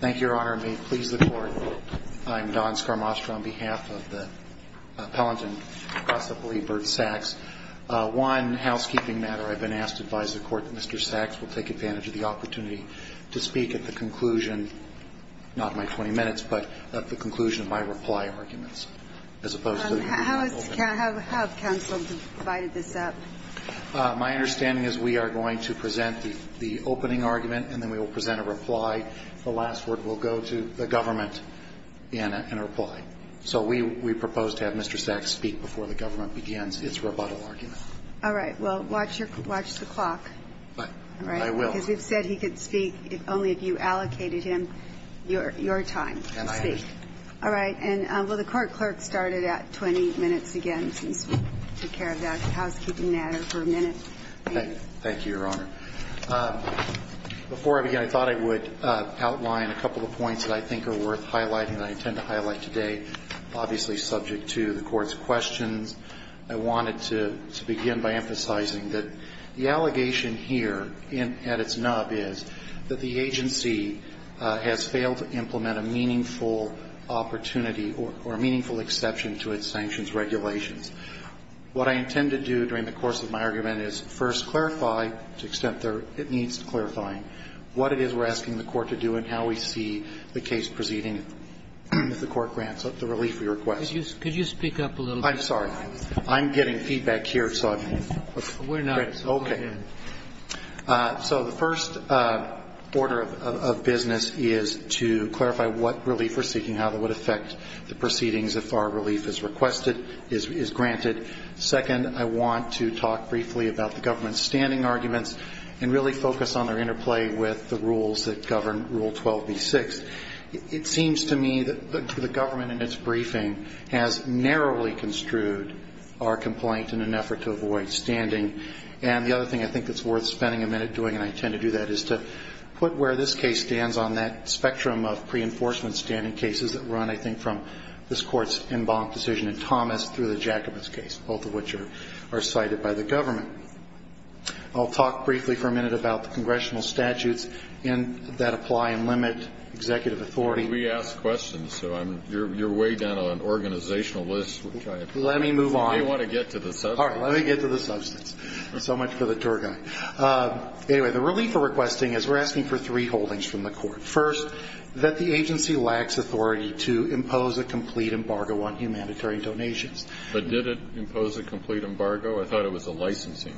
Thank you, Your Honor. May it please the Court, I'm Don Scarmastro on behalf of the Appellant and possibly Burt Sacks. One housekeeping matter, I've been asked to advise the Court that Mr. Sacks will take advantage of the opportunity to speak at the conclusion, not my 20 minutes, but at the conclusion of my reply arguments, as opposed to... How has counsel divided this up? My understanding is we are going to present the opening argument and then we will present a reply. The last word will go to the government in a reply. So we propose to have Mr. Sacks speak before the government begins its rebuttal argument. All right. Well, watch the clock. I will. Because we've said he could speak only if you allocated him your time to speak. And I understand. All right. And will the Court clerk start it at 20 minutes again, since we took care of that housekeeping matter for a minute? Thank you, Your Honor. Before I begin, I thought I would outline a couple of points that I think are worth highlighting and I intend to highlight today, obviously subject to the Court's questions. I wanted to begin by emphasizing that the allegation here at its nub is that the agency has failed to implement a meaningful opportunity or a meaningful exception to its sanctions regulations. What I intend to do during the course of my argument is first clarify, to the extent it needs clarifying, what it is we are asking the Court to do and how we see the case proceeding if the Court grants the relief we request. Could you speak up a little bit? I'm sorry. I'm getting feedback here, so I'm... We're not, so go ahead. So the first order of business is to clarify what relief we're seeking, how that would affect the proceedings if our relief is requested, is granted. Second, I want to talk briefly about the government's standing arguments and really focus on their interplay with the rules that govern Rule 12b6. It seems to me that the government in its briefing has narrowly construed our complaint in an effort to avoid standing. And the other thing I think that's worth spending a minute doing, and I intend to do that, is to put where this case stands on that spectrum of pre-enforcement standing cases that run, I think, from this Court's en banc decision in Thomas through the Jacobus case, both of which are cited by the government. I'll talk briefly for a minute about the congressional statutes that apply and limit executive authority. Well, we ask questions, so you're way down on an organizational list, which I appreciate. Let me move on. You may want to get to the substance. So much for the tour guide. Anyway, the relief we're requesting is we're asking for three holdings from the Court. First, that the agency lacks authority to impose a complete embargo on humanitarian donations. But did it impose a complete embargo? I thought it was a licensing.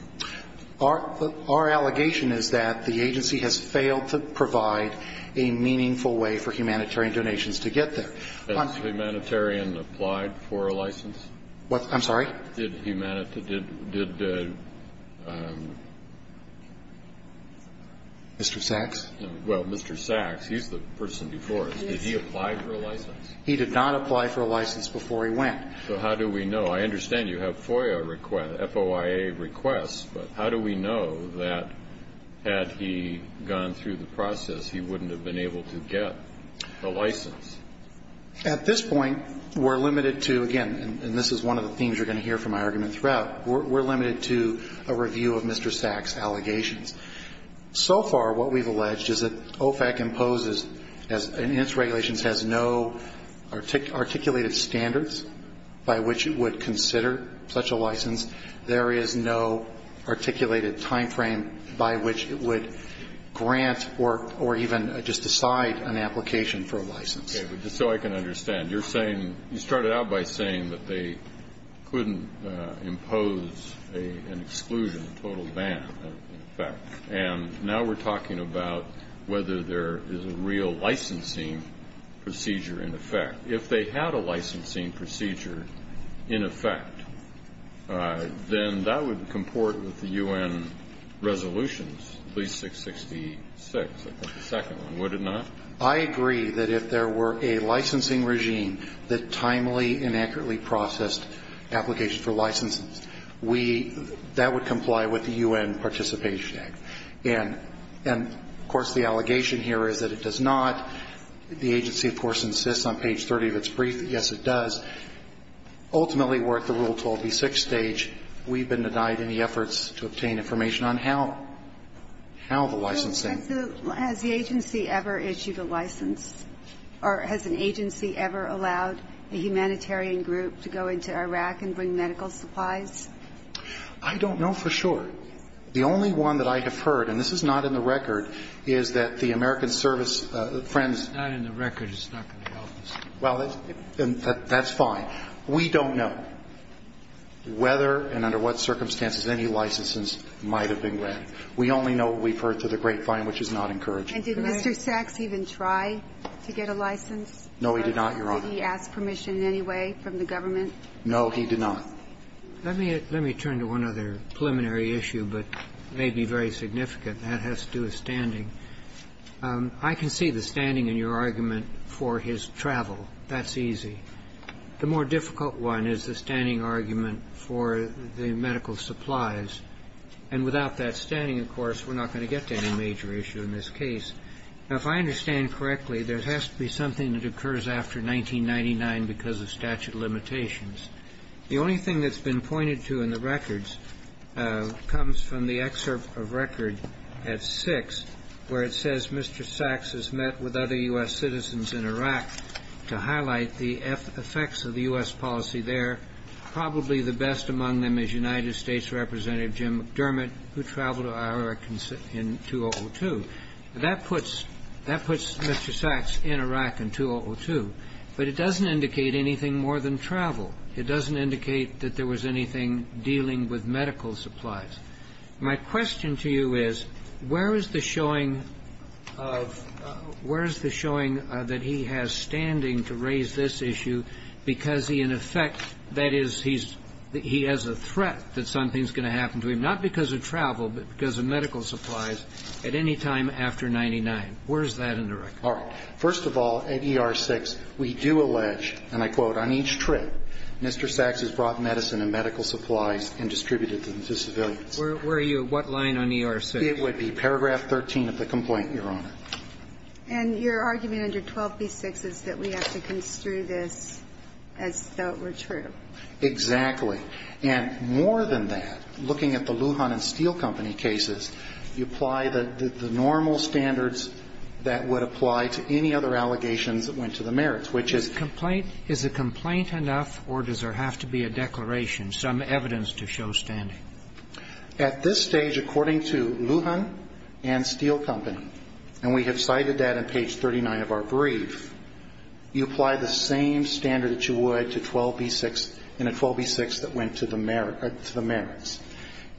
Our allegation is that the agency has failed to provide a meaningful way for humanitarian donations to get there. Has humanitarian applied for a license? I'm sorry? Mr. Sachs? Well, Mr. Sachs, he's the person before us. Did he apply for a license? He did not apply for a license before he went. So how do we know? I understand you have FOIA requests, FOIA requests, but how do we know that had he gone through the process, he wouldn't have been able to get a license? At this point, we're limited to, again, and this is one of the themes you're going to hear from my argument throughout, we're limited to a review of Mr. Sachs' allegations. So far, what we've alleged is that OFAC imposes, and its regulations has no articulated standards by which it would consider such a license. There is no articulated timeframe by which it would grant or even just decide an application for a license. Okay. But just so I can understand, you're saying you started out by saying that they couldn't impose an exclusion, a total ban in effect, and now we're talking about whether there is a real licensing procedure in effect. If they had a licensing procedure in effect, then that would comport with the U.N. resolutions, at least 666, I think the second one, would it not? I agree that if there were a licensing regime that timely and accurately processed applications for licenses, we, that would comply with the U.N. Participation Act. And, of course, the allegation here is that it does not. The agency, of course, insists on page 30 of its brief that, yes, it does. Ultimately, we're at the Rule 12b6 stage. We've been denied any efforts to obtain information on how the licensing. Has the agency ever issued a license or has an agency ever allowed a humanitarian group to go into Iraq and bring medical supplies? I don't know for sure. The only one that I have heard, and this is not in the record, is that the American Service Friends. It's not in the record. It's not going to help us. Well, that's fine. We don't know whether and under what circumstances any licenses might have been granted. We only know we've heard to the grapevine, which is not encouraging. And did Mr. Sachs even try to get a license? No, he did not, Your Honor. Did he ask permission in any way from the government? No, he did not. Let me turn to one other preliminary issue, but it may be very significant. That has to do with standing. I can see the standing in your argument for his travel. That's easy. The more difficult one is the standing argument for the medical supplies. And without that standing, of course, we're not going to get to any major issue in this case. Now, if I understand correctly, there has to be something that occurs after 1999 because of statute of limitations. The only thing that's been pointed to in the records comes from the excerpt of record at 6, where it says Mr. Sachs has met with other U.S. citizens in Iraq to highlight the effects of the U.S. policy there. Probably the best among them is United States Representative Jim McDermott, who traveled to Iraq in 2002. That puts Mr. Sachs in Iraq in 2002, but it doesn't indicate anything more than travel. It doesn't indicate that there was anything dealing with medical supplies. My question to you is, where is the showing of, where is the showing that he has standing to raise this issue because he, in effect, that is, he's, he has a threat that something's going to happen to him, not because of travel, but because of medical supplies at any time after 99. Where is that in the record? All right. First of all, at ER-6, we do allege, and I quote, on each trip, Mr. Sachs has brought medicine and medical supplies and distributed them to civilians. Were you at what line on ER-6? It would be paragraph 13 of the complaint, Your Honor. And your argument under 12b-6 is that we have to construe this as though it were true. Exactly. And more than that, looking at the Lujan and Steel Company cases, you apply the normal standards that would apply to any other allegations that went to the merits, which is complaint. Is a complaint enough, or does there have to be a declaration, some evidence to show standing? At this stage, according to Lujan and Steel Company, and we have cited that on page 39 of our brief, you apply the same standard that you would to 12b-6 in a 12b-6 that went to the merits.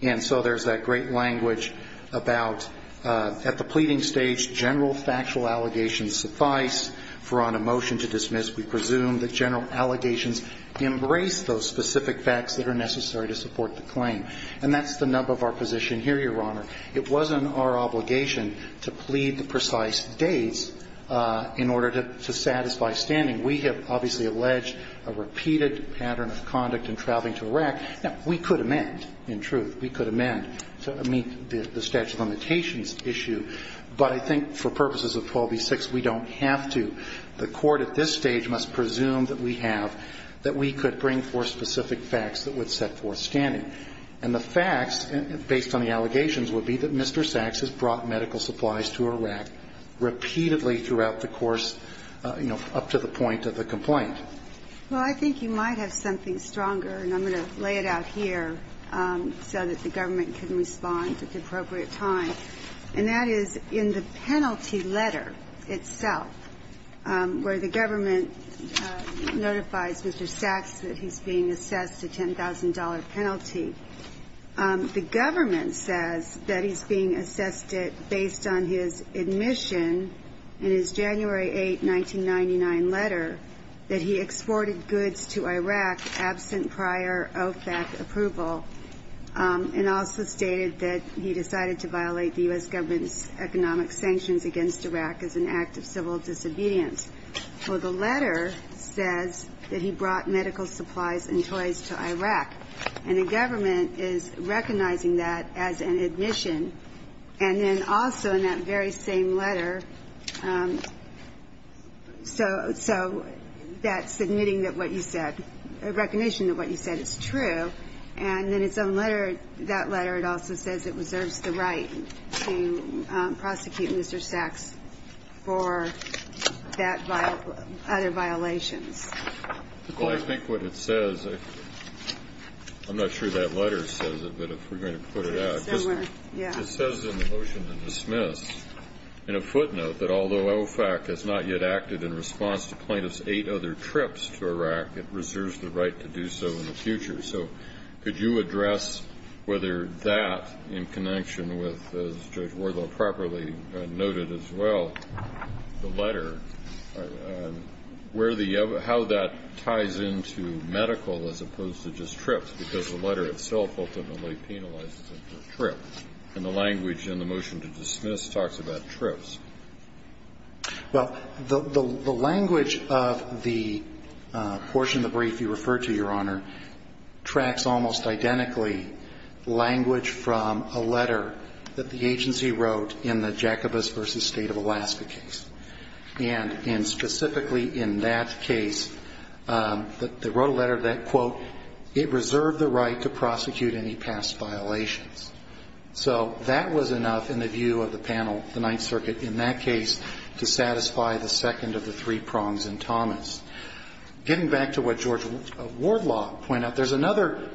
And so there's that great language about, at the pleading stage, general factual allegations suffice for a motion to dismiss. We presume that general allegations embrace those specific facts that are necessary to support the claim. And that's the nub of our position here, Your Honor. It wasn't our obligation to plead the precise dates in order to satisfy standing. We have obviously alleged a repeated pattern of conduct in traveling to Iraq. Now, we could amend, in truth. We could amend to meet the statute of limitations issue. But I think for purposes of 12b-6, we don't have to. The Court at this stage must presume that we have, that we could bring forth specific facts that would set forth standing. And the facts, based on the allegations, would be that Mr. Sachs has brought medical supplies to Iraq repeatedly throughout the course, you know, up to the point of the complaint. Well, I think you might have something stronger, and I'm going to lay it out here, so that the government can respond at the appropriate time. And that is in the penalty letter itself, where the government notifies Mr. Sachs that he's being assessed a $10,000 penalty. The government says that he's being assessed it based on his admission in his January 8, 1999 letter that he exported goods to Iraq absent prior OFAC approval, and also stated that he decided to violate the U.S. government's economic sanctions against Iraq as an act of civil disobedience. Well, the letter says that he brought medical supplies and toys to Iraq. And the government is recognizing that as an admission. And then also in that very same letter, so that's admitting that what you said, a recognition that what you said is true. And in its own letter, that letter, it also says it reserves the right to prosecute Mr. Sachs for other violations. Well, I think what it says, I'm not sure that letter says it, but if we're going to put it out. It says in the motion to dismiss, in a footnote, that although OFAC has not yet acted in response to plaintiffs' eight other trips to Iraq, it reserves the right to do so in the future. So could you address whether that, in connection with, as Judge Wardle properly noted as well, the letter, where the other, how that ties into medical as opposed to just trips, because the letter itself ultimately penalizes him for trips. And the language in the motion to dismiss talks about trips. Well, the language of the portion of the brief you referred to, Your Honor, is that it tracks almost identically language from a letter that the agency wrote in the Jacobus v. State of Alaska case. And specifically in that case, they wrote a letter that, quote, it reserved the right to prosecute any past violations. So that was enough in the view of the panel, the Ninth Circuit, in that case, Getting back to what Judge Wardle pointed out, there's another,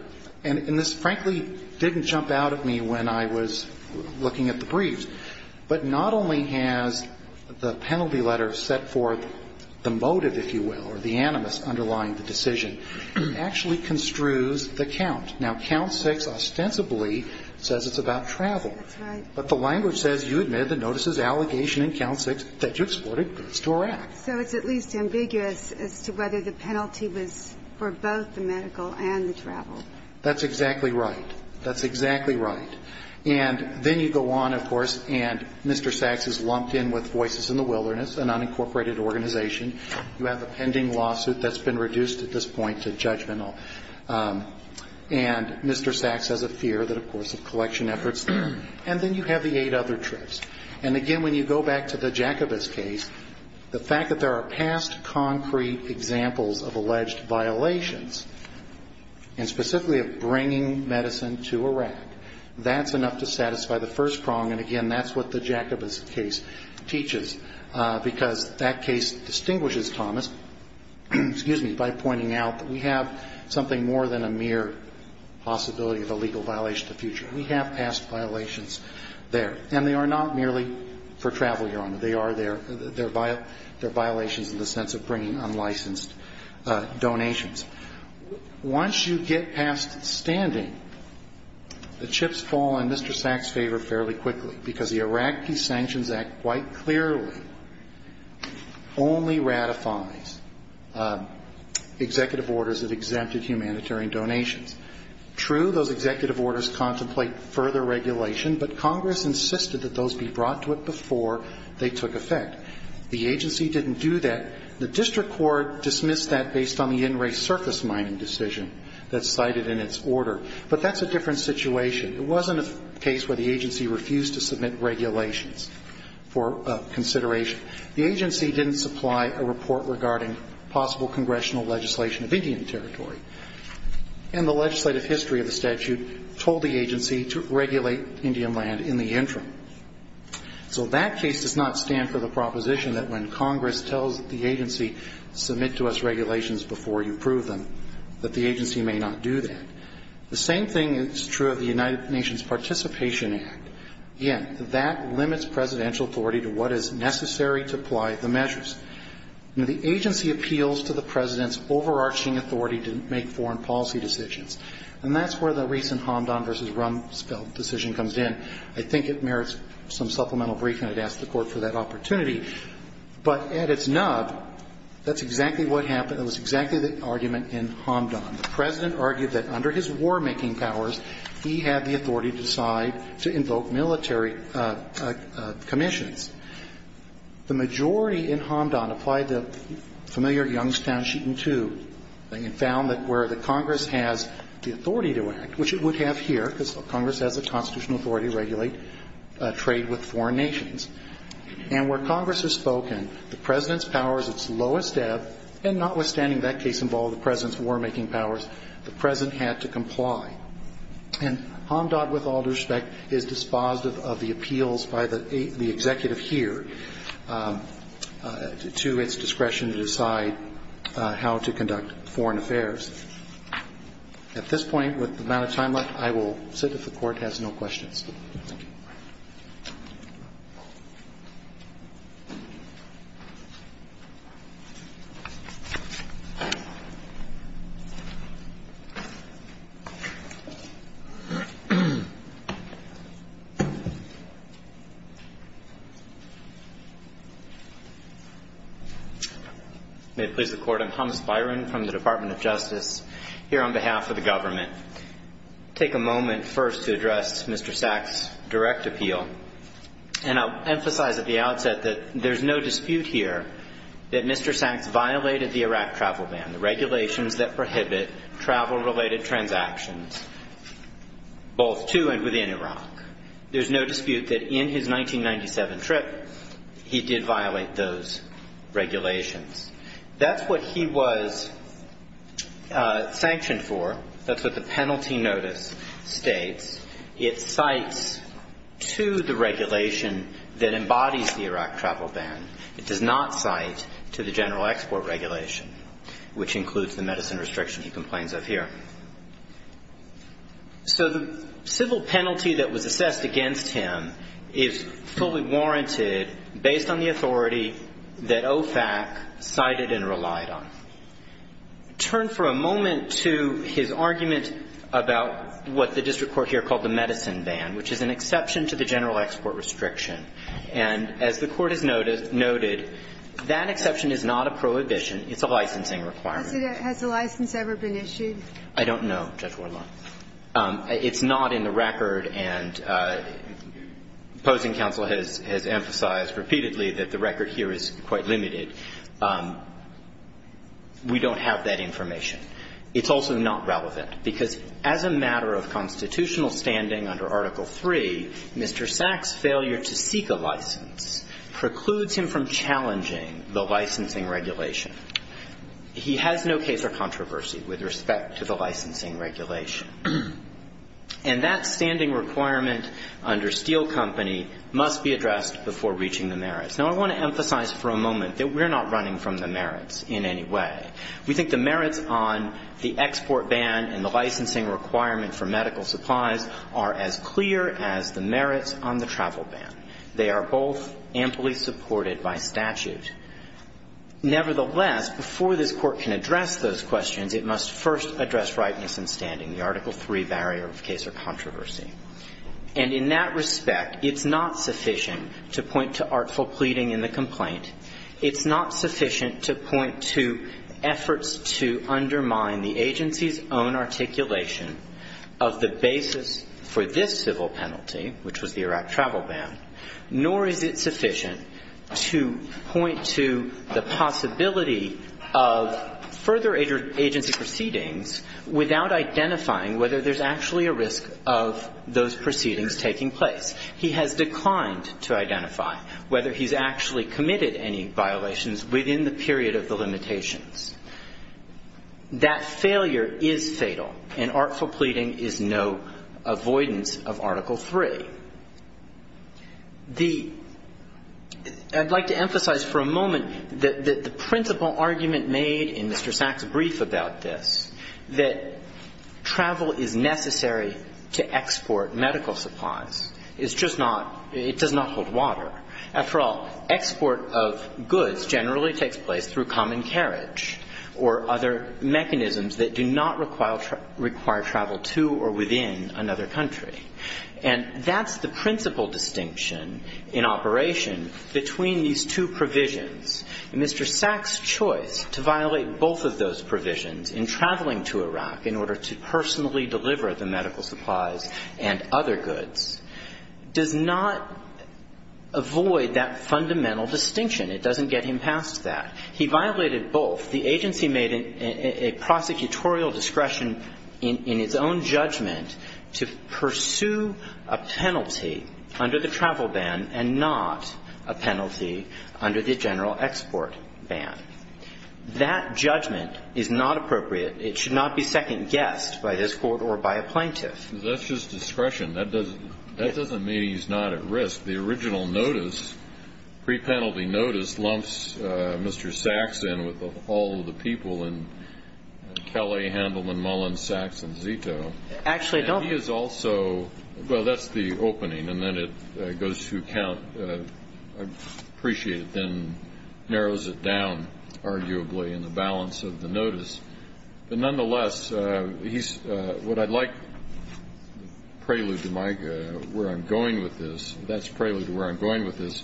and this frankly didn't jump out at me when I was looking at the briefs. But not only has the penalty letter set forth the motive, if you will, or the animus underlying the decision, it actually construes the count. Now, count 6 ostensibly says it's about travel. That's right. But the language says you admit the notice's allegation in count 6 that you exported goods to Iraq. So it's at least ambiguous as to whether the penalty was for both the medical and the travel. That's exactly right. That's exactly right. And then you go on, of course, and Mr. Sachs is lumped in with Voices in the Wilderness, an unincorporated organization. You have a pending lawsuit that's been reduced at this point to judgmental. And Mr. Sachs has a fear that, of course, of collection efforts. And then you have the eight other trips. And, again, when you go back to the Jacobus case, the fact that there are past concrete examples of alleged violations, and specifically of bringing medicine to Iraq, that's enough to satisfy the first prong. And, again, that's what the Jacobus case teaches, because that case distinguishes Thomas, excuse me, by pointing out that we have something more than a mere possibility of a legal violation in the future. We have past violations there. And they are not merely for travel, Your Honor. They are there. They're violations in the sense of bringing unlicensed donations. Once you get past standing, the chips fall in Mr. Sachs' favor fairly quickly, because the Iraqi Sanctions Act quite clearly only ratifies executive orders that exempted humanitarian donations. True, those executive orders contemplate further regulation, but Congress insisted that those be brought to it before they took effect. The agency didn't do that. The district court dismissed that based on the in-race surface mining decision that's cited in its order. But that's a different situation. It wasn't a case where the agency refused to submit regulations for consideration. The agency didn't supply a report regarding possible congressional legislation of Indian Territory. And the legislative history of the statute told the agency to regulate Indian land in the interim. So that case does not stand for the proposition that when Congress tells the agency submit to us regulations before you approve them, that the agency may not do that. The same thing is true of the United Nations Participation Act. Again, that limits presidential authority to what is necessary to apply the measures. Now, the agency appeals to the President's overarching authority to make foreign policy decisions. And that's where the recent Hamdan v. Rumsfeld decision comes in. I think it merits some supplemental briefing. I'd ask the Court for that opportunity. But at its nub, that's exactly what happened. It was exactly the argument in Hamdan. The President argued that under his war-making powers, he had the authority to decide to invoke military commissions. The majority in Hamdan applied the familiar Youngstown Sheet and Tube and found that where the Congress has the authority to act, which it would have here because Congress has the constitutional authority to regulate trade with foreign nations, and where Congress has spoken, the President's power is at its lowest ebb, and notwithstanding that case involving the President's war-making powers, the President had to comply. And Hamdan, with all due respect, is dispositive of the appeals by the executive here to its discretion to decide how to conduct foreign affairs. At this point, with the amount of time left, I will sit if the Court has no questions. May it please the Court, I'm Thomas Byron from the Department of Justice, here on behalf of the government. Take a moment first to address Mr. Sachs' direct appeal, and I'll emphasize at the outset that there's no dispute here that Mr. Sachs violated the Iraq travel ban, the regulations that prohibit travel-related transactions, both to and within Iraq. There's no dispute that in his 1997 trip, he did violate those regulations. That's what he was sanctioned for. That's what the penalty notice states. It cites to the regulation that embodies the Iraq travel ban. It does not cite to the general export regulation, which includes the medicine restriction he complains of here. So the civil penalty that was assessed against him is fully warranted based on the authority that OFAC cited and relied on. Turn for a moment to his argument about what the district court here called the medicine ban, which is an exception to the general export restriction. And as the Court has noted, that exception is not a prohibition. It's a licensing requirement. Has the license ever been issued? I don't know, Judge Wardlaw. It's not in the record, and opposing counsel has emphasized repeatedly that the record here is quite limited. We don't have that information. It's also not relevant, because as a matter of constitutional standing under Article 3, Mr. Sack's failure to seek a license precludes him from challenging the licensing regulation. He has no case or controversy with respect to the licensing regulation. And that standing requirement under Steele Company must be addressed before reaching the merits. Now, I want to emphasize for a moment that we're not running from the merits in any way. We think the merits on the export ban and the licensing requirement for medical supplies are as clear as the merits on the travel ban. They are both amply supported by statute. Nevertheless, before this Court can address those questions, it must first address rightness in standing, the Article 3 barrier of case or controversy. And in that respect, it's not sufficient to point to artful pleading in the complaint. It's not sufficient to point to efforts to undermine the agency's own articulation of the basis for this civil penalty, which was the Iraq travel ban, nor is it sufficient to point to the possibility of further agency proceedings without identifying whether there's actually a risk of those proceedings taking place. He has declined to identify whether he's actually committed any violations within the period of the limitations. That failure is fatal, and artful pleading is no avoidance of Article 3. The – I'd like to emphasize for a moment that the principal argument made in Mr. Sachs' case is that travel is necessary to export medical supplies. It's just not – it does not hold water. After all, export of goods generally takes place through common carriage or other mechanisms that do not require travel to or within another country. And that's the principal distinction in operation between these two provisions. Mr. Sachs' choice to violate both of those provisions in traveling to Iraq in order to personally deliver the medical supplies and other goods does not avoid that fundamental distinction. It doesn't get him past that. He violated both. The agency made a prosecutorial discretion in its own judgment to pursue a penalty under the travel ban and not a penalty under the general export ban. That judgment is not appropriate. It should not be second-guessed by this Court or by a plaintiff. That's just discretion. That doesn't mean he's not at risk. The original notice, pre-penalty notice, lumps Mr. Sachs in with all of the people in Kelly, Handelman, Mullen, Sachs, and Zito. Actually, I don't – He is also – well, that's the opening, and then it goes to count. I appreciate it then narrows it down, arguably, in the balance of the notice. But nonetheless, what I'd like – prelude to where I'm going with this. That's prelude to where I'm going with this.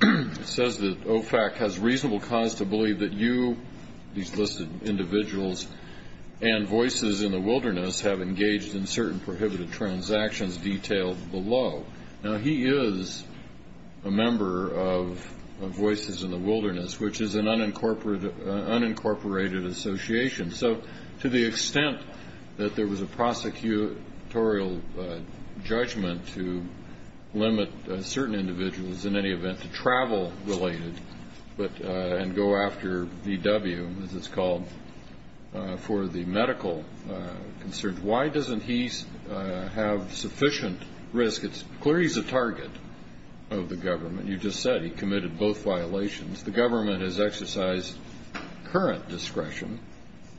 It says that OFAC has reasonable cause to believe that you, these listed individuals, and voices in the wilderness have engaged in certain prohibited transactions detailed below. Now, he is a member of Voices in the Wilderness, which is an unincorporated association. So to the extent that there was a prosecutorial judgment to limit certain individuals, in any event, to travel-related and go after VW, as it's called, for the medical concerns, why doesn't he have sufficient risk? It's clear he's a target of the government. You just said he committed both violations. The government has exercised current discretion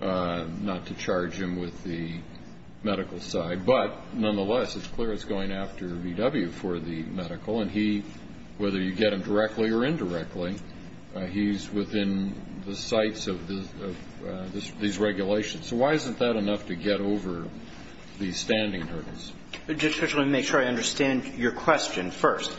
not to charge him with the medical side. But nonetheless, it's clear it's going after VW for the medical. And he, whether you get him directly or indirectly, he's within the sights of these regulations. So why isn't that enough to get over these standing hurdles? Just to make sure I understand your question first.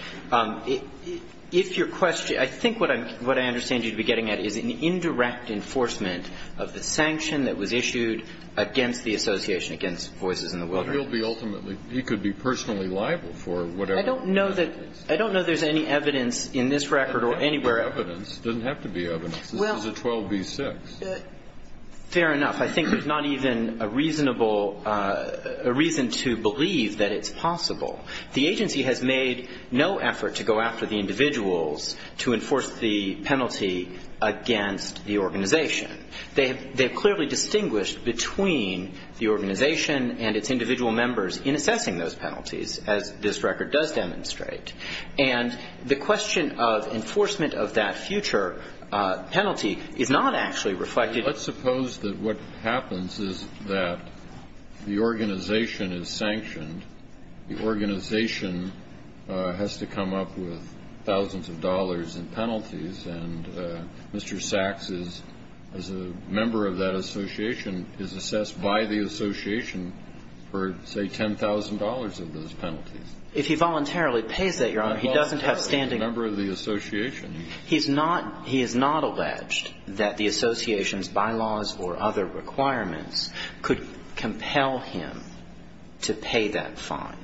If your question – I think what I understand you to be getting at is an indirect enforcement of the sanction that was issued against the association, against Voices in the Wilderness. But he'll be ultimately – he could be personally liable for whatever. But I don't know that – I don't know there's any evidence in this record or anywhere else. It doesn't have to be evidence. It doesn't have to be evidence. This is a 12b-6. Fair enough. I think there's not even a reasonable – a reason to believe that it's possible. The agency has made no effort to go after the individuals to enforce the penalty against the organization. They have clearly distinguished between the organization and its individual members in assessing those penalties, as this record does demonstrate. And the question of enforcement of that future penalty is not actually reflected – Let's suppose that what happens is that the organization is sanctioned. The organization has to come up with thousands of dollars in penalties. And Mr. Sachs is, as a member of that association, is assessed by the association for, say, $10,000 of those penalties. If he voluntarily pays that, Your Honor, he doesn't have standing – A member of the association. He's not – he has not alleged that the association's bylaws or other requirements could compel him to pay that fine.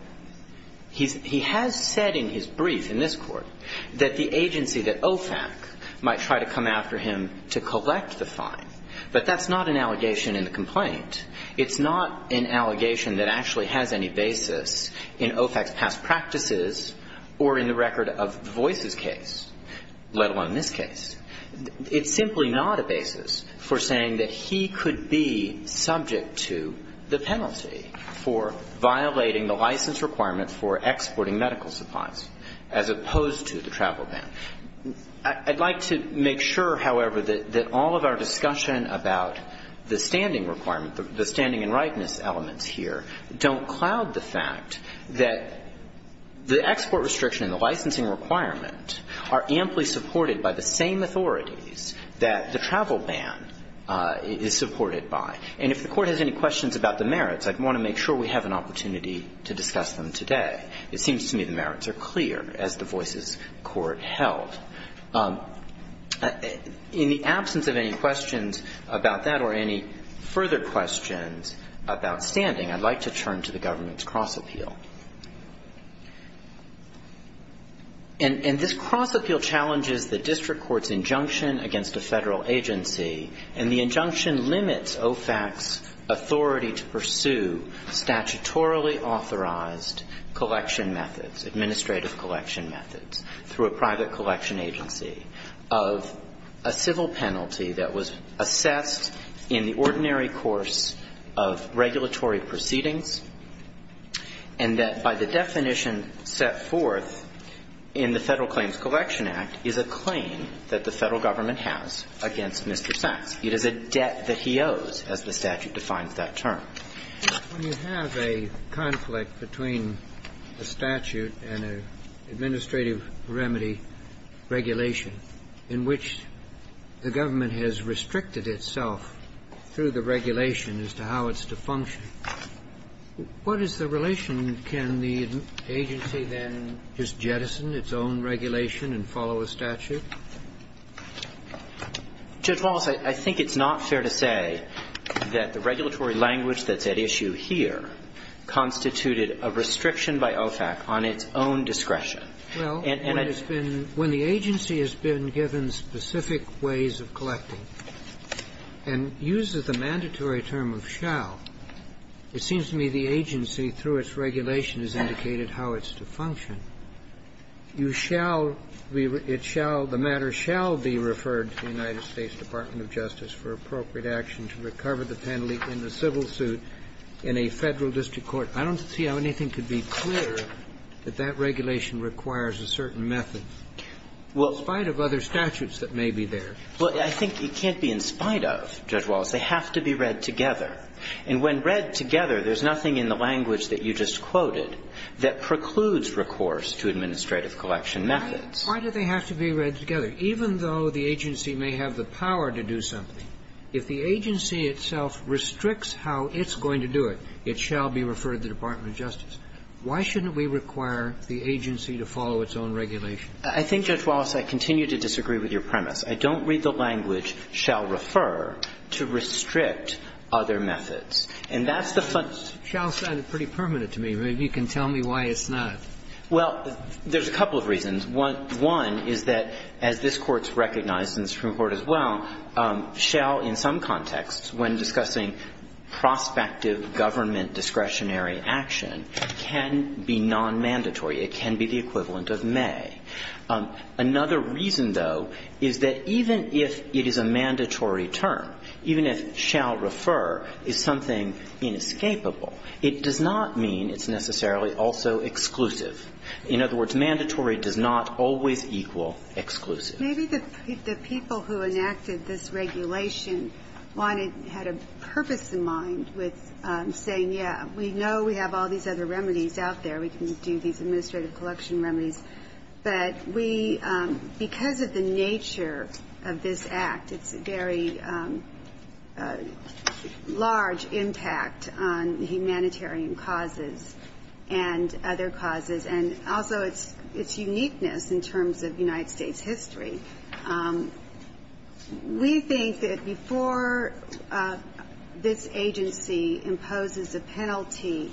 He has said in his brief in this Court that the agency, that OFAC, might try to come after him to collect the fine. But that's not an allegation in the complaint. It's not an allegation that actually has any basis in OFAC's past practices or in the record of Voices' case, let alone this case. It's simply not a basis for saying that he could be subject to the penalty for violating the license requirement for exporting medical supplies, as opposed to the travel ban. I'd like to make sure, however, that all of our discussion about the standing requirement, the standing and rightness elements here, don't cloud the fact that the export restriction and the licensing requirement are amply supported by the same authorities that the travel ban is supported by. And if the Court has any questions about the merits, I'd want to make sure we have an opportunity to discuss them today. It seems to me the merits are clear, as the Voices Court held. In the absence of any questions about that or any further questions about standing, I'd like to turn to the government's cross-appeal. And this cross-appeal challenges the district court's injunction against a Federal agency, and the injunction limits OFAC's authority to pursue statutorily authorized collection methods, administrative collection methods, through a private collection agency of a civil penalty that was assessed in the ordinary course of regulatory proceedings, and that by the definition set forth in the Federal Claims Collection Act is a claim that the Federal Government has against Mr. Sachs. It is a debt that he owes, as the statute defines that term. Kennedy. When you have a conflict between a statute and an administrative remedy regulation in which the government has restricted itself through the regulation as to how it's to function, what is the relation? And can the agency then just jettison its own regulation and follow a statute? Judge Wallace, I think it's not fair to say that the regulatory language that's at issue here constituted a restriction by OFAC on its own discretion. Well, when it's been – when the agency has been given specific ways of collecting and uses the mandatory term of shall, it seems to me the agency, through its regulation, has indicated how it's to function. You shall be – it shall – the matter shall be referred to the United States Department of Justice for appropriate action to recover the penalty in the civil suit in a Federal district court. I don't see how anything could be clearer that that regulation requires a certain method, in spite of other statutes that may be there. Well, I think it can't be in spite of, Judge Wallace. They have to be read together. And when read together, there's nothing in the language that you just quoted that precludes recourse to administrative collection methods. Why do they have to be read together? Even though the agency may have the power to do something, if the agency itself restricts how it's going to do it, it shall be referred to the Department of Justice. Why shouldn't we require the agency to follow its own regulation? I think, Judge Wallace, I continue to disagree with your premise. I don't read the language, shall refer, to restrict other methods. And that's the fundamental reason. Shall sounded pretty permanent to me. Maybe you can tell me why it's not. Well, there's a couple of reasons. One is that, as this Court's recognized, and the Supreme Court as well, shall in some contexts, when discussing prospective government discretionary action, can be nonmandatory. It can be the equivalent of may. Another reason, though, is that even if it is a mandatory term, even if shall refer is something inescapable, it does not mean it's necessarily also exclusive. In other words, mandatory does not always equal exclusive. Maybe the people who enacted this regulation wanted, had a purpose in mind with saying, yeah, we know we have all these other remedies out there. We can do these administrative collection remedies. But we, because of the nature of this act, it's a very large impact on humanitarian causes and other causes, and also its uniqueness in terms of United States history. We think that before this agency imposes a penalty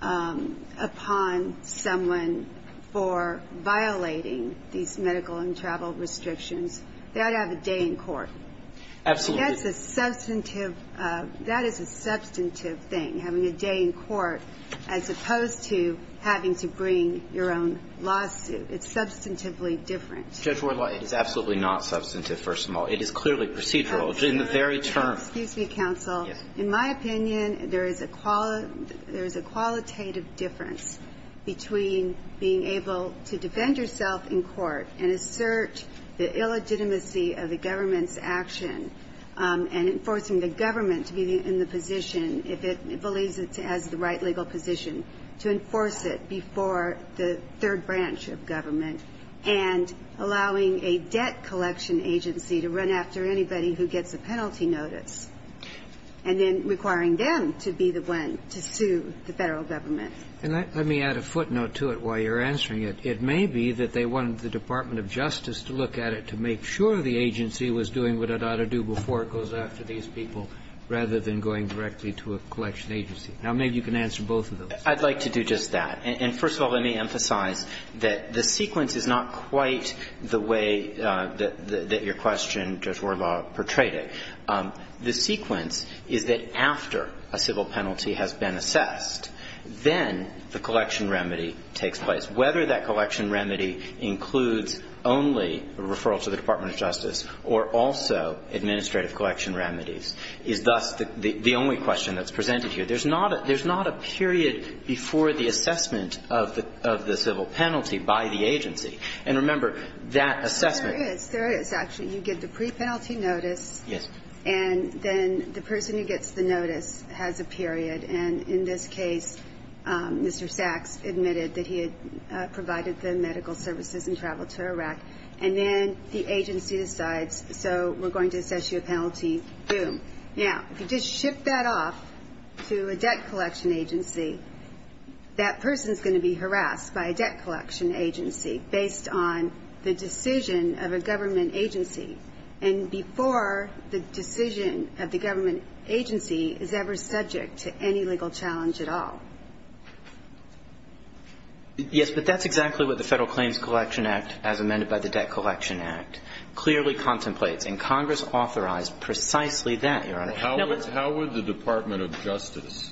upon someone for violating these medical and travel restrictions, they ought to have a day in court. Absolutely. That's a substantive, that is a substantive thing, having a day in court, as opposed to having to bring your own lawsuit. It's substantively different. Judge Wardlaw, it is absolutely not substantive, first of all. It is clearly procedural. In the very term. Excuse me, counsel. In my opinion, there is a qualitative difference between being able to defend yourself in court and assert the illegitimacy of the government's action and enforcing the government to be in the position, if it believes it has the right legal position, to enforce it before the third branch of government, and allowing a debt collection agency to run after anybody who gets a penalty notice, and then requiring them to be the one to sue the Federal Government. And let me add a footnote to it while you're answering it. It may be that they wanted the Department of Justice to look at it to make sure the agency was doing what it ought to do before it goes after these people rather than going directly to a collection agency. Now, maybe you can answer both of those. I'd like to do just that. And first of all, let me emphasize that the sequence is not quite the way that your question, Judge Wardlaw, portrayed it. The sequence is that after a civil penalty has been assessed, then the collection remedy takes place. Whether that collection remedy includes only a referral to the Department of Justice or also administrative collection remedies is thus the only question that's presented here. There's not a period before the assessment of the civil penalty by the agency. And remember, that assessment ---- There is. There is, actually. You get the pre-penalty notice. Yes. And then the person who gets the notice has a period. And in this case, Mr. Sachs admitted that he had provided the medical services and traveled to Iraq. And then the agency decides, so we're going to assess you a penalty. Boom. Now, if you just ship that off to a debt collection agency, that person is going to be harassed by a debt collection agency based on the decision of a government agency, and before the decision of the government agency is ever subject to any legal challenge at all. Yes. But that's exactly what the Federal Claims Collection Act, as amended by the Debt How would the Department of Justice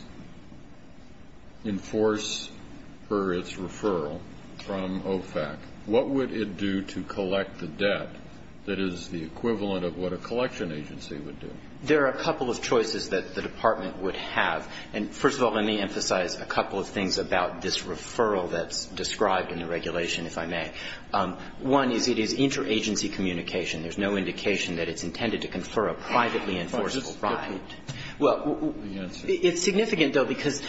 enforce for its referral from OFAC? What would it do to collect the debt that is the equivalent of what a collection agency would do? There are a couple of choices that the department would have. And first of all, let me emphasize a couple of things about this referral that's described in the regulation, if I may. One is it is interagency communication. There's no indication that it's intended to confer a privately enforceable right. Well, it's significant, though, because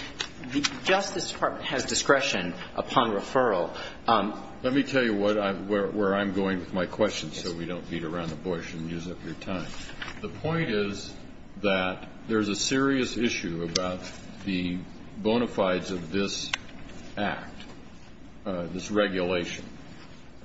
the Justice Department has discretion upon referral. Let me tell you where I'm going with my questions so we don't beat around the bush and use up your time. The point is that there's a serious issue about the bona fides of this Act, this regulation.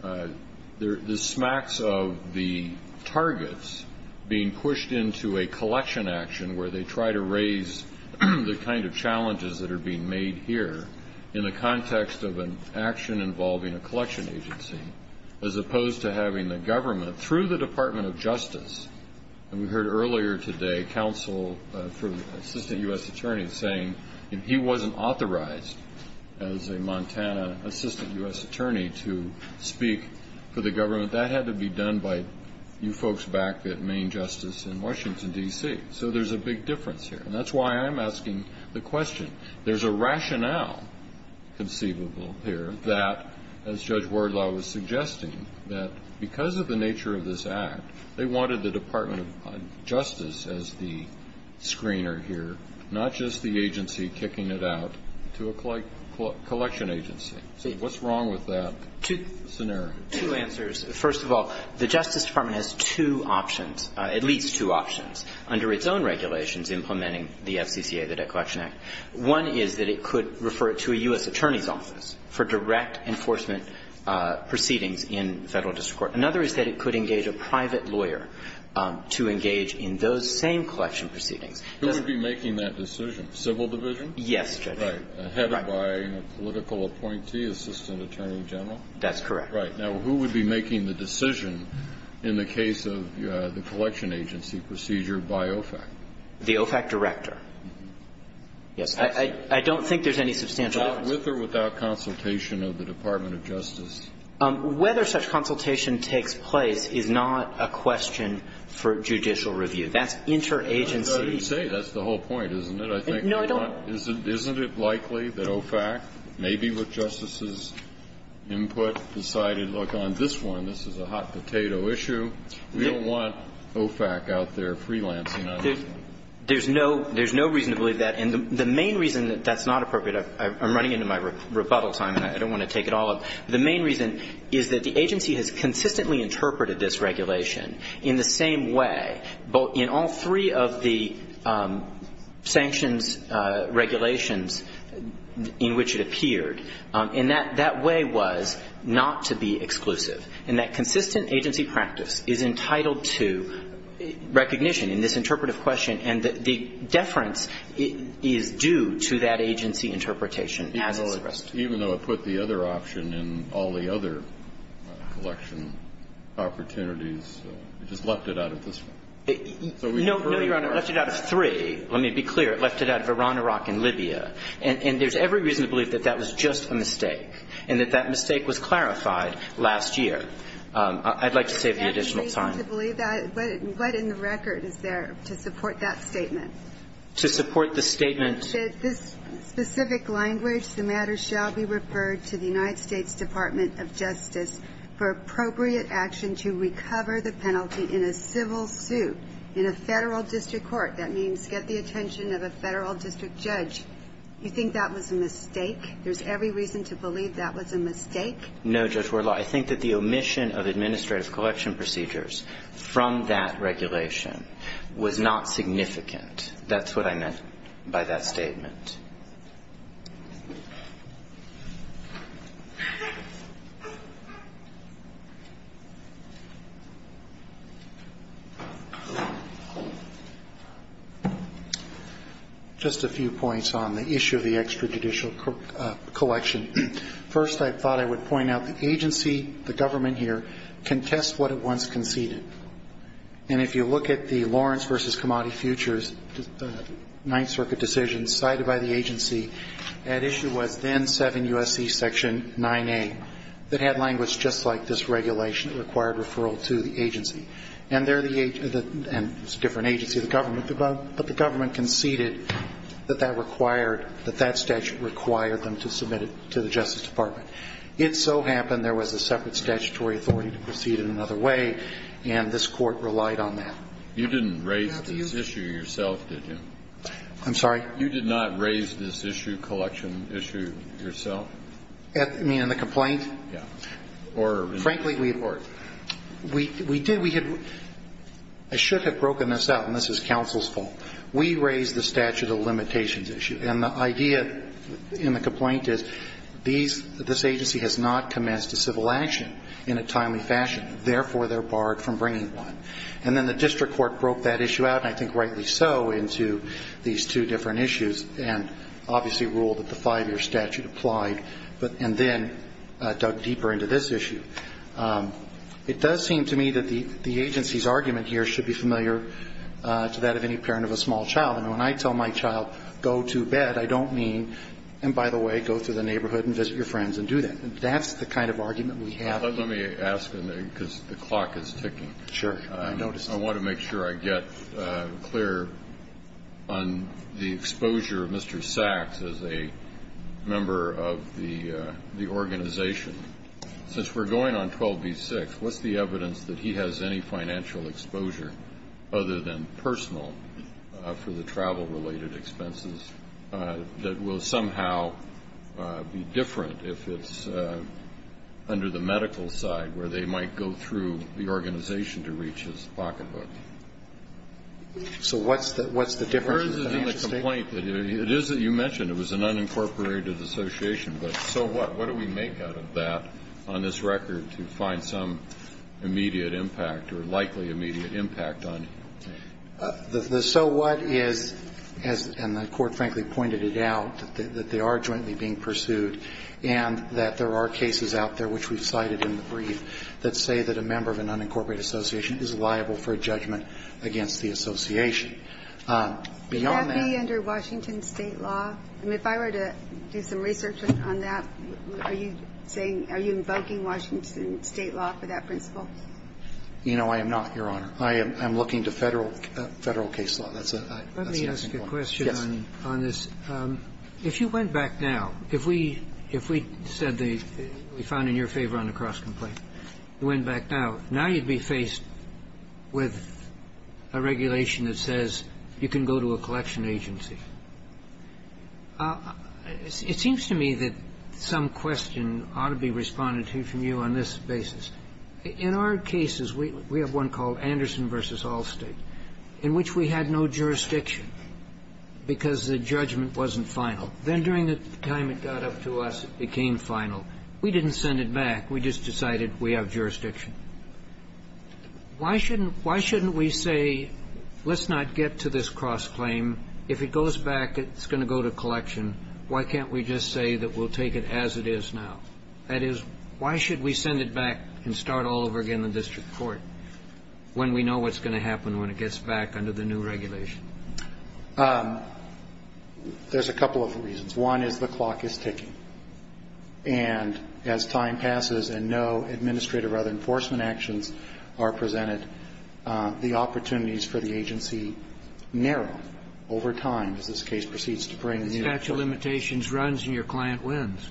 The smacks of the targets being pushed into a collection action where they try to raise the kind of challenges that are being made here in the context of an action involving a collection agency, as opposed to having the government through the Department of Justice. And we heard earlier today counsel from Assistant U.S. Attorney saying he wasn't authorized as a Montana Assistant U.S. Attorney to speak for the government. That had to be done by you folks back at Maine Justice in Washington, D.C. So there's a big difference here. And that's why I'm asking the question. There's a rationale conceivable here that, as Judge Wardlaw was suggesting, that because of the nature of this Act, they wanted the Department of Justice as the screener here, not just the agency kicking it out to a collection agency. So what's wrong with that? Scenario? Two answers. First of all, the Justice Department has two options, at least two options, under its own regulations implementing the FCCA, the Debt Collection Act. One is that it could refer it to a U.S. Attorney's office for direct enforcement proceedings in Federal district court. Another is that it could engage a private lawyer to engage in those same collection proceedings. Who would be making that decision? Civil division? Yes, Judge. Right. Headed by a political appointee, assistant attorney general? That's correct. Right. Now, who would be making the decision in the case of the collection agency procedure by OFAC? The OFAC director. Yes. I don't think there's any substantial difference. With or without consultation of the Department of Justice? Whether such consultation takes place is not a question for judicial review. That's interagency. That's what I was going to say. That's the whole point, isn't it? No, I don't. Isn't it likely that OFAC, maybe with Justice's input, decided, look, on this one, this is a hot potato issue. We don't want OFAC out there freelancing on this one. There's no reason to believe that. And the main reason that that's not appropriate, I'm running into my rebuttal time and I don't want to take it all up. The main reason is that the agency has consistently interpreted this regulation in the same way in all three of the sanctions regulations in which it appeared. And that way was not to be exclusive. And that consistent agency practice is entitled to recognition in this interpretive question, and the deference is due to that agency interpretation as is the rest. Even though it put the other option in all the other collection opportunities it just left it out of this one. No, Your Honor, it left it out of three. Let me be clear. It left it out of Iran, Iraq, and Libya. And there's every reason to believe that that was just a mistake and that that mistake was clarified last year. I'd like to save the additional time. There's no reason to believe that. What in the record is there to support that statement? To support the statement that this specific language, the matter shall be referred to the United States Department of Justice for appropriate action to recover the penalty in a civil suit in a federal district court. That means get the attention of a federal district judge. You think that was a mistake? There's every reason to believe that was a mistake? No, Judge Wardlaw. I think that the omission of administrative collection procedures from that regulation was not significant. That's what I meant by that statement. Thank you. Just a few points on the issue of the extrajudicial collection. First, I thought I would point out the agency, the government here, contests what it once conceded. And if you look at the Lawrence v. Commodity Futures, the Ninth Circuit decision cited by the agency, that issue was then 7 U.S.C. Section 9A. That had language just like this regulation. It required referral to the agency. And they're the agency, and it's a different agency, the government. But the government conceded that that required, that that statute required them to submit it to the Justice Department. It so happened there was a separate statutory authority to proceed in another way, and this Court relied on that. You didn't raise this issue yourself, did you? I'm sorry? You did not raise this issue, collection issue, yourself? I mean, in the complaint? Yes. Or? Frankly, we did. I should have broken this up, and this is counsel's fault. We raised the statute of limitations issue. And the idea in the complaint is these, this agency has not commenced a civil action in a timely fashion. Therefore, they're barred from bringing one. And then the district court broke that issue out, and I think rightly so, into these two different issues, and obviously ruled that the five-year statute applied, and then dug deeper into this issue. It does seem to me that the agency's argument here should be familiar to that of any parent of a small child. And when I tell my child, go to bed, I don't mean, and by the way, go to the neighborhood and visit your friends and do that. That's the kind of argument we have. Let me ask, because the clock is ticking. Sure. I want to make sure I get clear on the exposure of Mr. Sacks as a member of the organization. Since we're going on 12B-6, what's the evidence that he has any financial exposure other than personal for the travel-related expenses that will somehow be different if it's under the medical side, where they might go through the organization to reach his pocketbook? So what's the difference? The difference is in the complaint. It is that you mentioned. It was an unincorporated association. But so what? What do we make out of that on this record to find some immediate impact or likely immediate impact on him? The so what is, and the Court frankly pointed it out, that they are jointly being that say that a member of an unincorporated association is liable for a judgment against the association. Beyond that. Can that be under Washington State law? I mean, if I were to do some research on that, are you saying, are you invoking Washington State law for that principle? You know, I am not, Your Honor. I am looking to Federal case law. Let me ask a question on this. Yes. If you went back now, if we said that we found in your favor on the cross-complaint, you went back now, now you would be faced with a regulation that says you can go to a collection agency. It seems to me that some question ought to be responded to from you on this basis. In our cases, we have one called Anderson v. Allstate, in which we had no jurisdiction because the judgment wasn't final. Then during the time it got up to us, it became final. We didn't send it back. We just decided we have jurisdiction. Why shouldn't we say let's not get to this cross-claim? If it goes back, it's going to go to collection. Why can't we just say that we'll take it as it is now? That is, why should we send it back and start all over again in the district court when we know what's going to happen when it gets back under the new regulation? There's a couple of reasons. One is the clock is ticking. And as time passes and no administrative or other enforcement actions are presented, the opportunities for the agency narrow over time as this case proceeds to bring the new regulation. The statute of limitations runs and your client wins.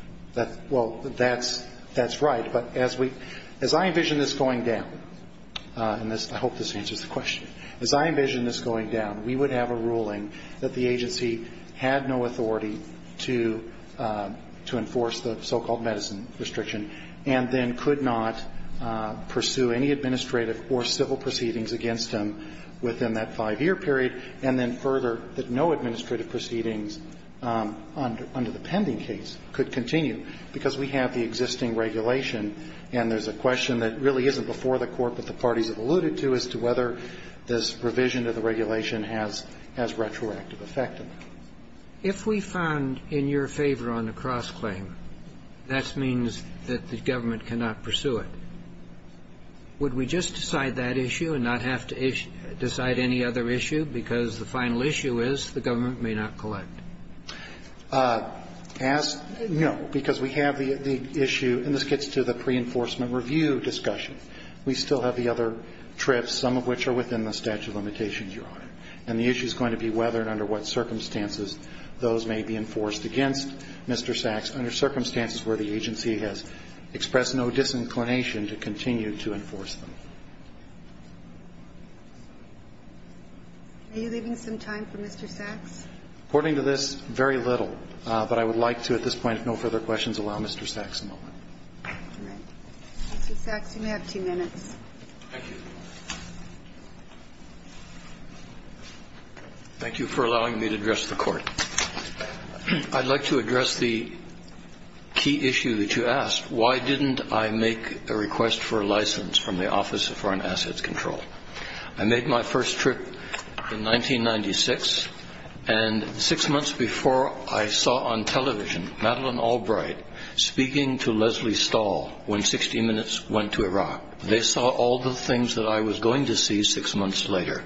Well, that's right. But as I envision this going down, and I hope this answers the question, as I envision this going down, we would have a ruling that the agency had no authority to enforce the so-called medicine restriction, and then could not pursue any administrative or civil proceedings against them within that 5-year period, and then further that no administrative proceedings under the pending case could continue, because we have the existing regulation. And there's a question that really isn't before the Court, but the parties have alluded to, as to whether this revision of the regulation has retroactive effect on that. If we found in your favor on the cross-claim, that means that the government cannot pursue it, would we just decide that issue and not have to decide any other issue, because the final issue is the government may not collect? As you know, because we have the issue, and this gets to the pre-enforcement review discussion. We still have the other trips, some of which are within the statute of limitations, Your Honor. And the issue is going to be whether and under what circumstances those may be enforced against Mr. Sachs, under circumstances where the agency has expressed no disinclination to continue to enforce them. Are you leaving some time for Mr. Sachs? According to this, very little. But I would like to at this point, if no further questions, allow Mr. Sachs a moment. Mr. Sachs, you may have two minutes. Thank you. Thank you for allowing me to address the Court. I'd like to address the key issue that you asked. Why didn't I make a request for a license from the Office of Foreign Assets Control? I made my first trip in 1996, and six months before, I saw on television Madeleine Albright speaking to Leslie Stahl when 60 Minutes went to Iraq. They saw all the things that I was going to see six months later.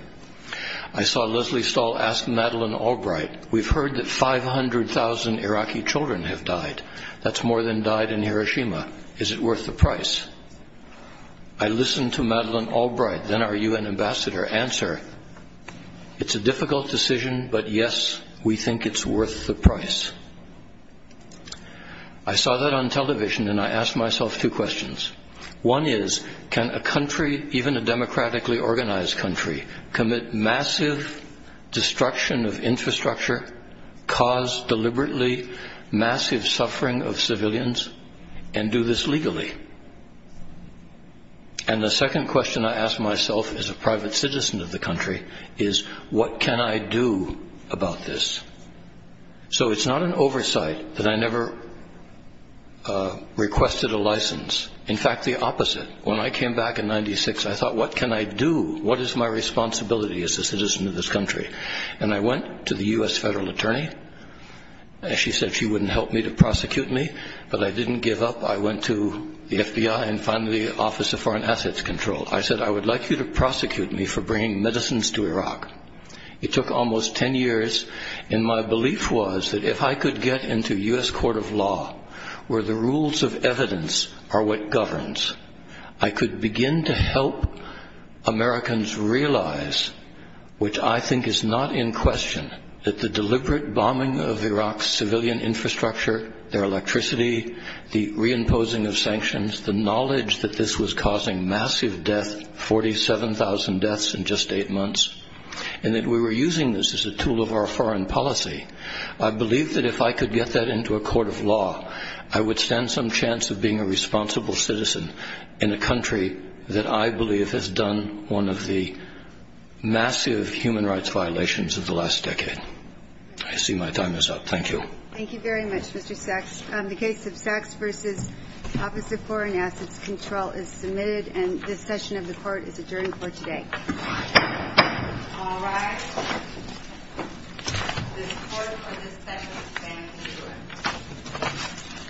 I saw Leslie Stahl ask Madeleine Albright, We've heard that 500,000 Iraqi children have died. That's more than died in Hiroshima. Is it worth the price? I listened to Madeleine Albright, then our U.N. ambassador, answer, It's a difficult decision, but yes, we think it's worth the price. I saw that on television, and I asked myself two questions. One is, can a country, even a democratically organized country, commit massive destruction of infrastructure, cause deliberately massive suffering of civilians, and do this legally? And the second question I asked myself as a private citizen of the country is, What can I do about this? So it's not an oversight that I never requested a license. In fact, the opposite. When I came back in 1996, I thought, What can I do? What is my responsibility as a citizen of this country? And I went to the U.S. federal attorney. She said she wouldn't help me to prosecute me, but I didn't give up. I went to the FBI and finally the Office of Foreign Assets Control. I said, I would like you to prosecute me for bringing medicines to Iraq. It took almost ten years, and my belief was that if I could get into U.S. court of law, where the rules of evidence are what governs, I could begin to help Americans realize, which I think is not in question, that the deliberate bombing of Iraq's civilian infrastructure, their electricity, the reimposing of sanctions, the knowledge that this was causing massive death, 47,000 deaths in just eight months, and that we were using this as a tool of our foreign policy, I believe that if I could get that into a court of law, I would stand some chance of being a responsible citizen in a country that I believe has done one of the massive human rights violations of the last decade. I see my time is up. Thank you. Thank you very much, Mr. Sachs. The case of Sachs v. Office of Foreign Assets Control is submitted, and this session of the court is adjourned for today. All rise. This court for this session stands adjourned.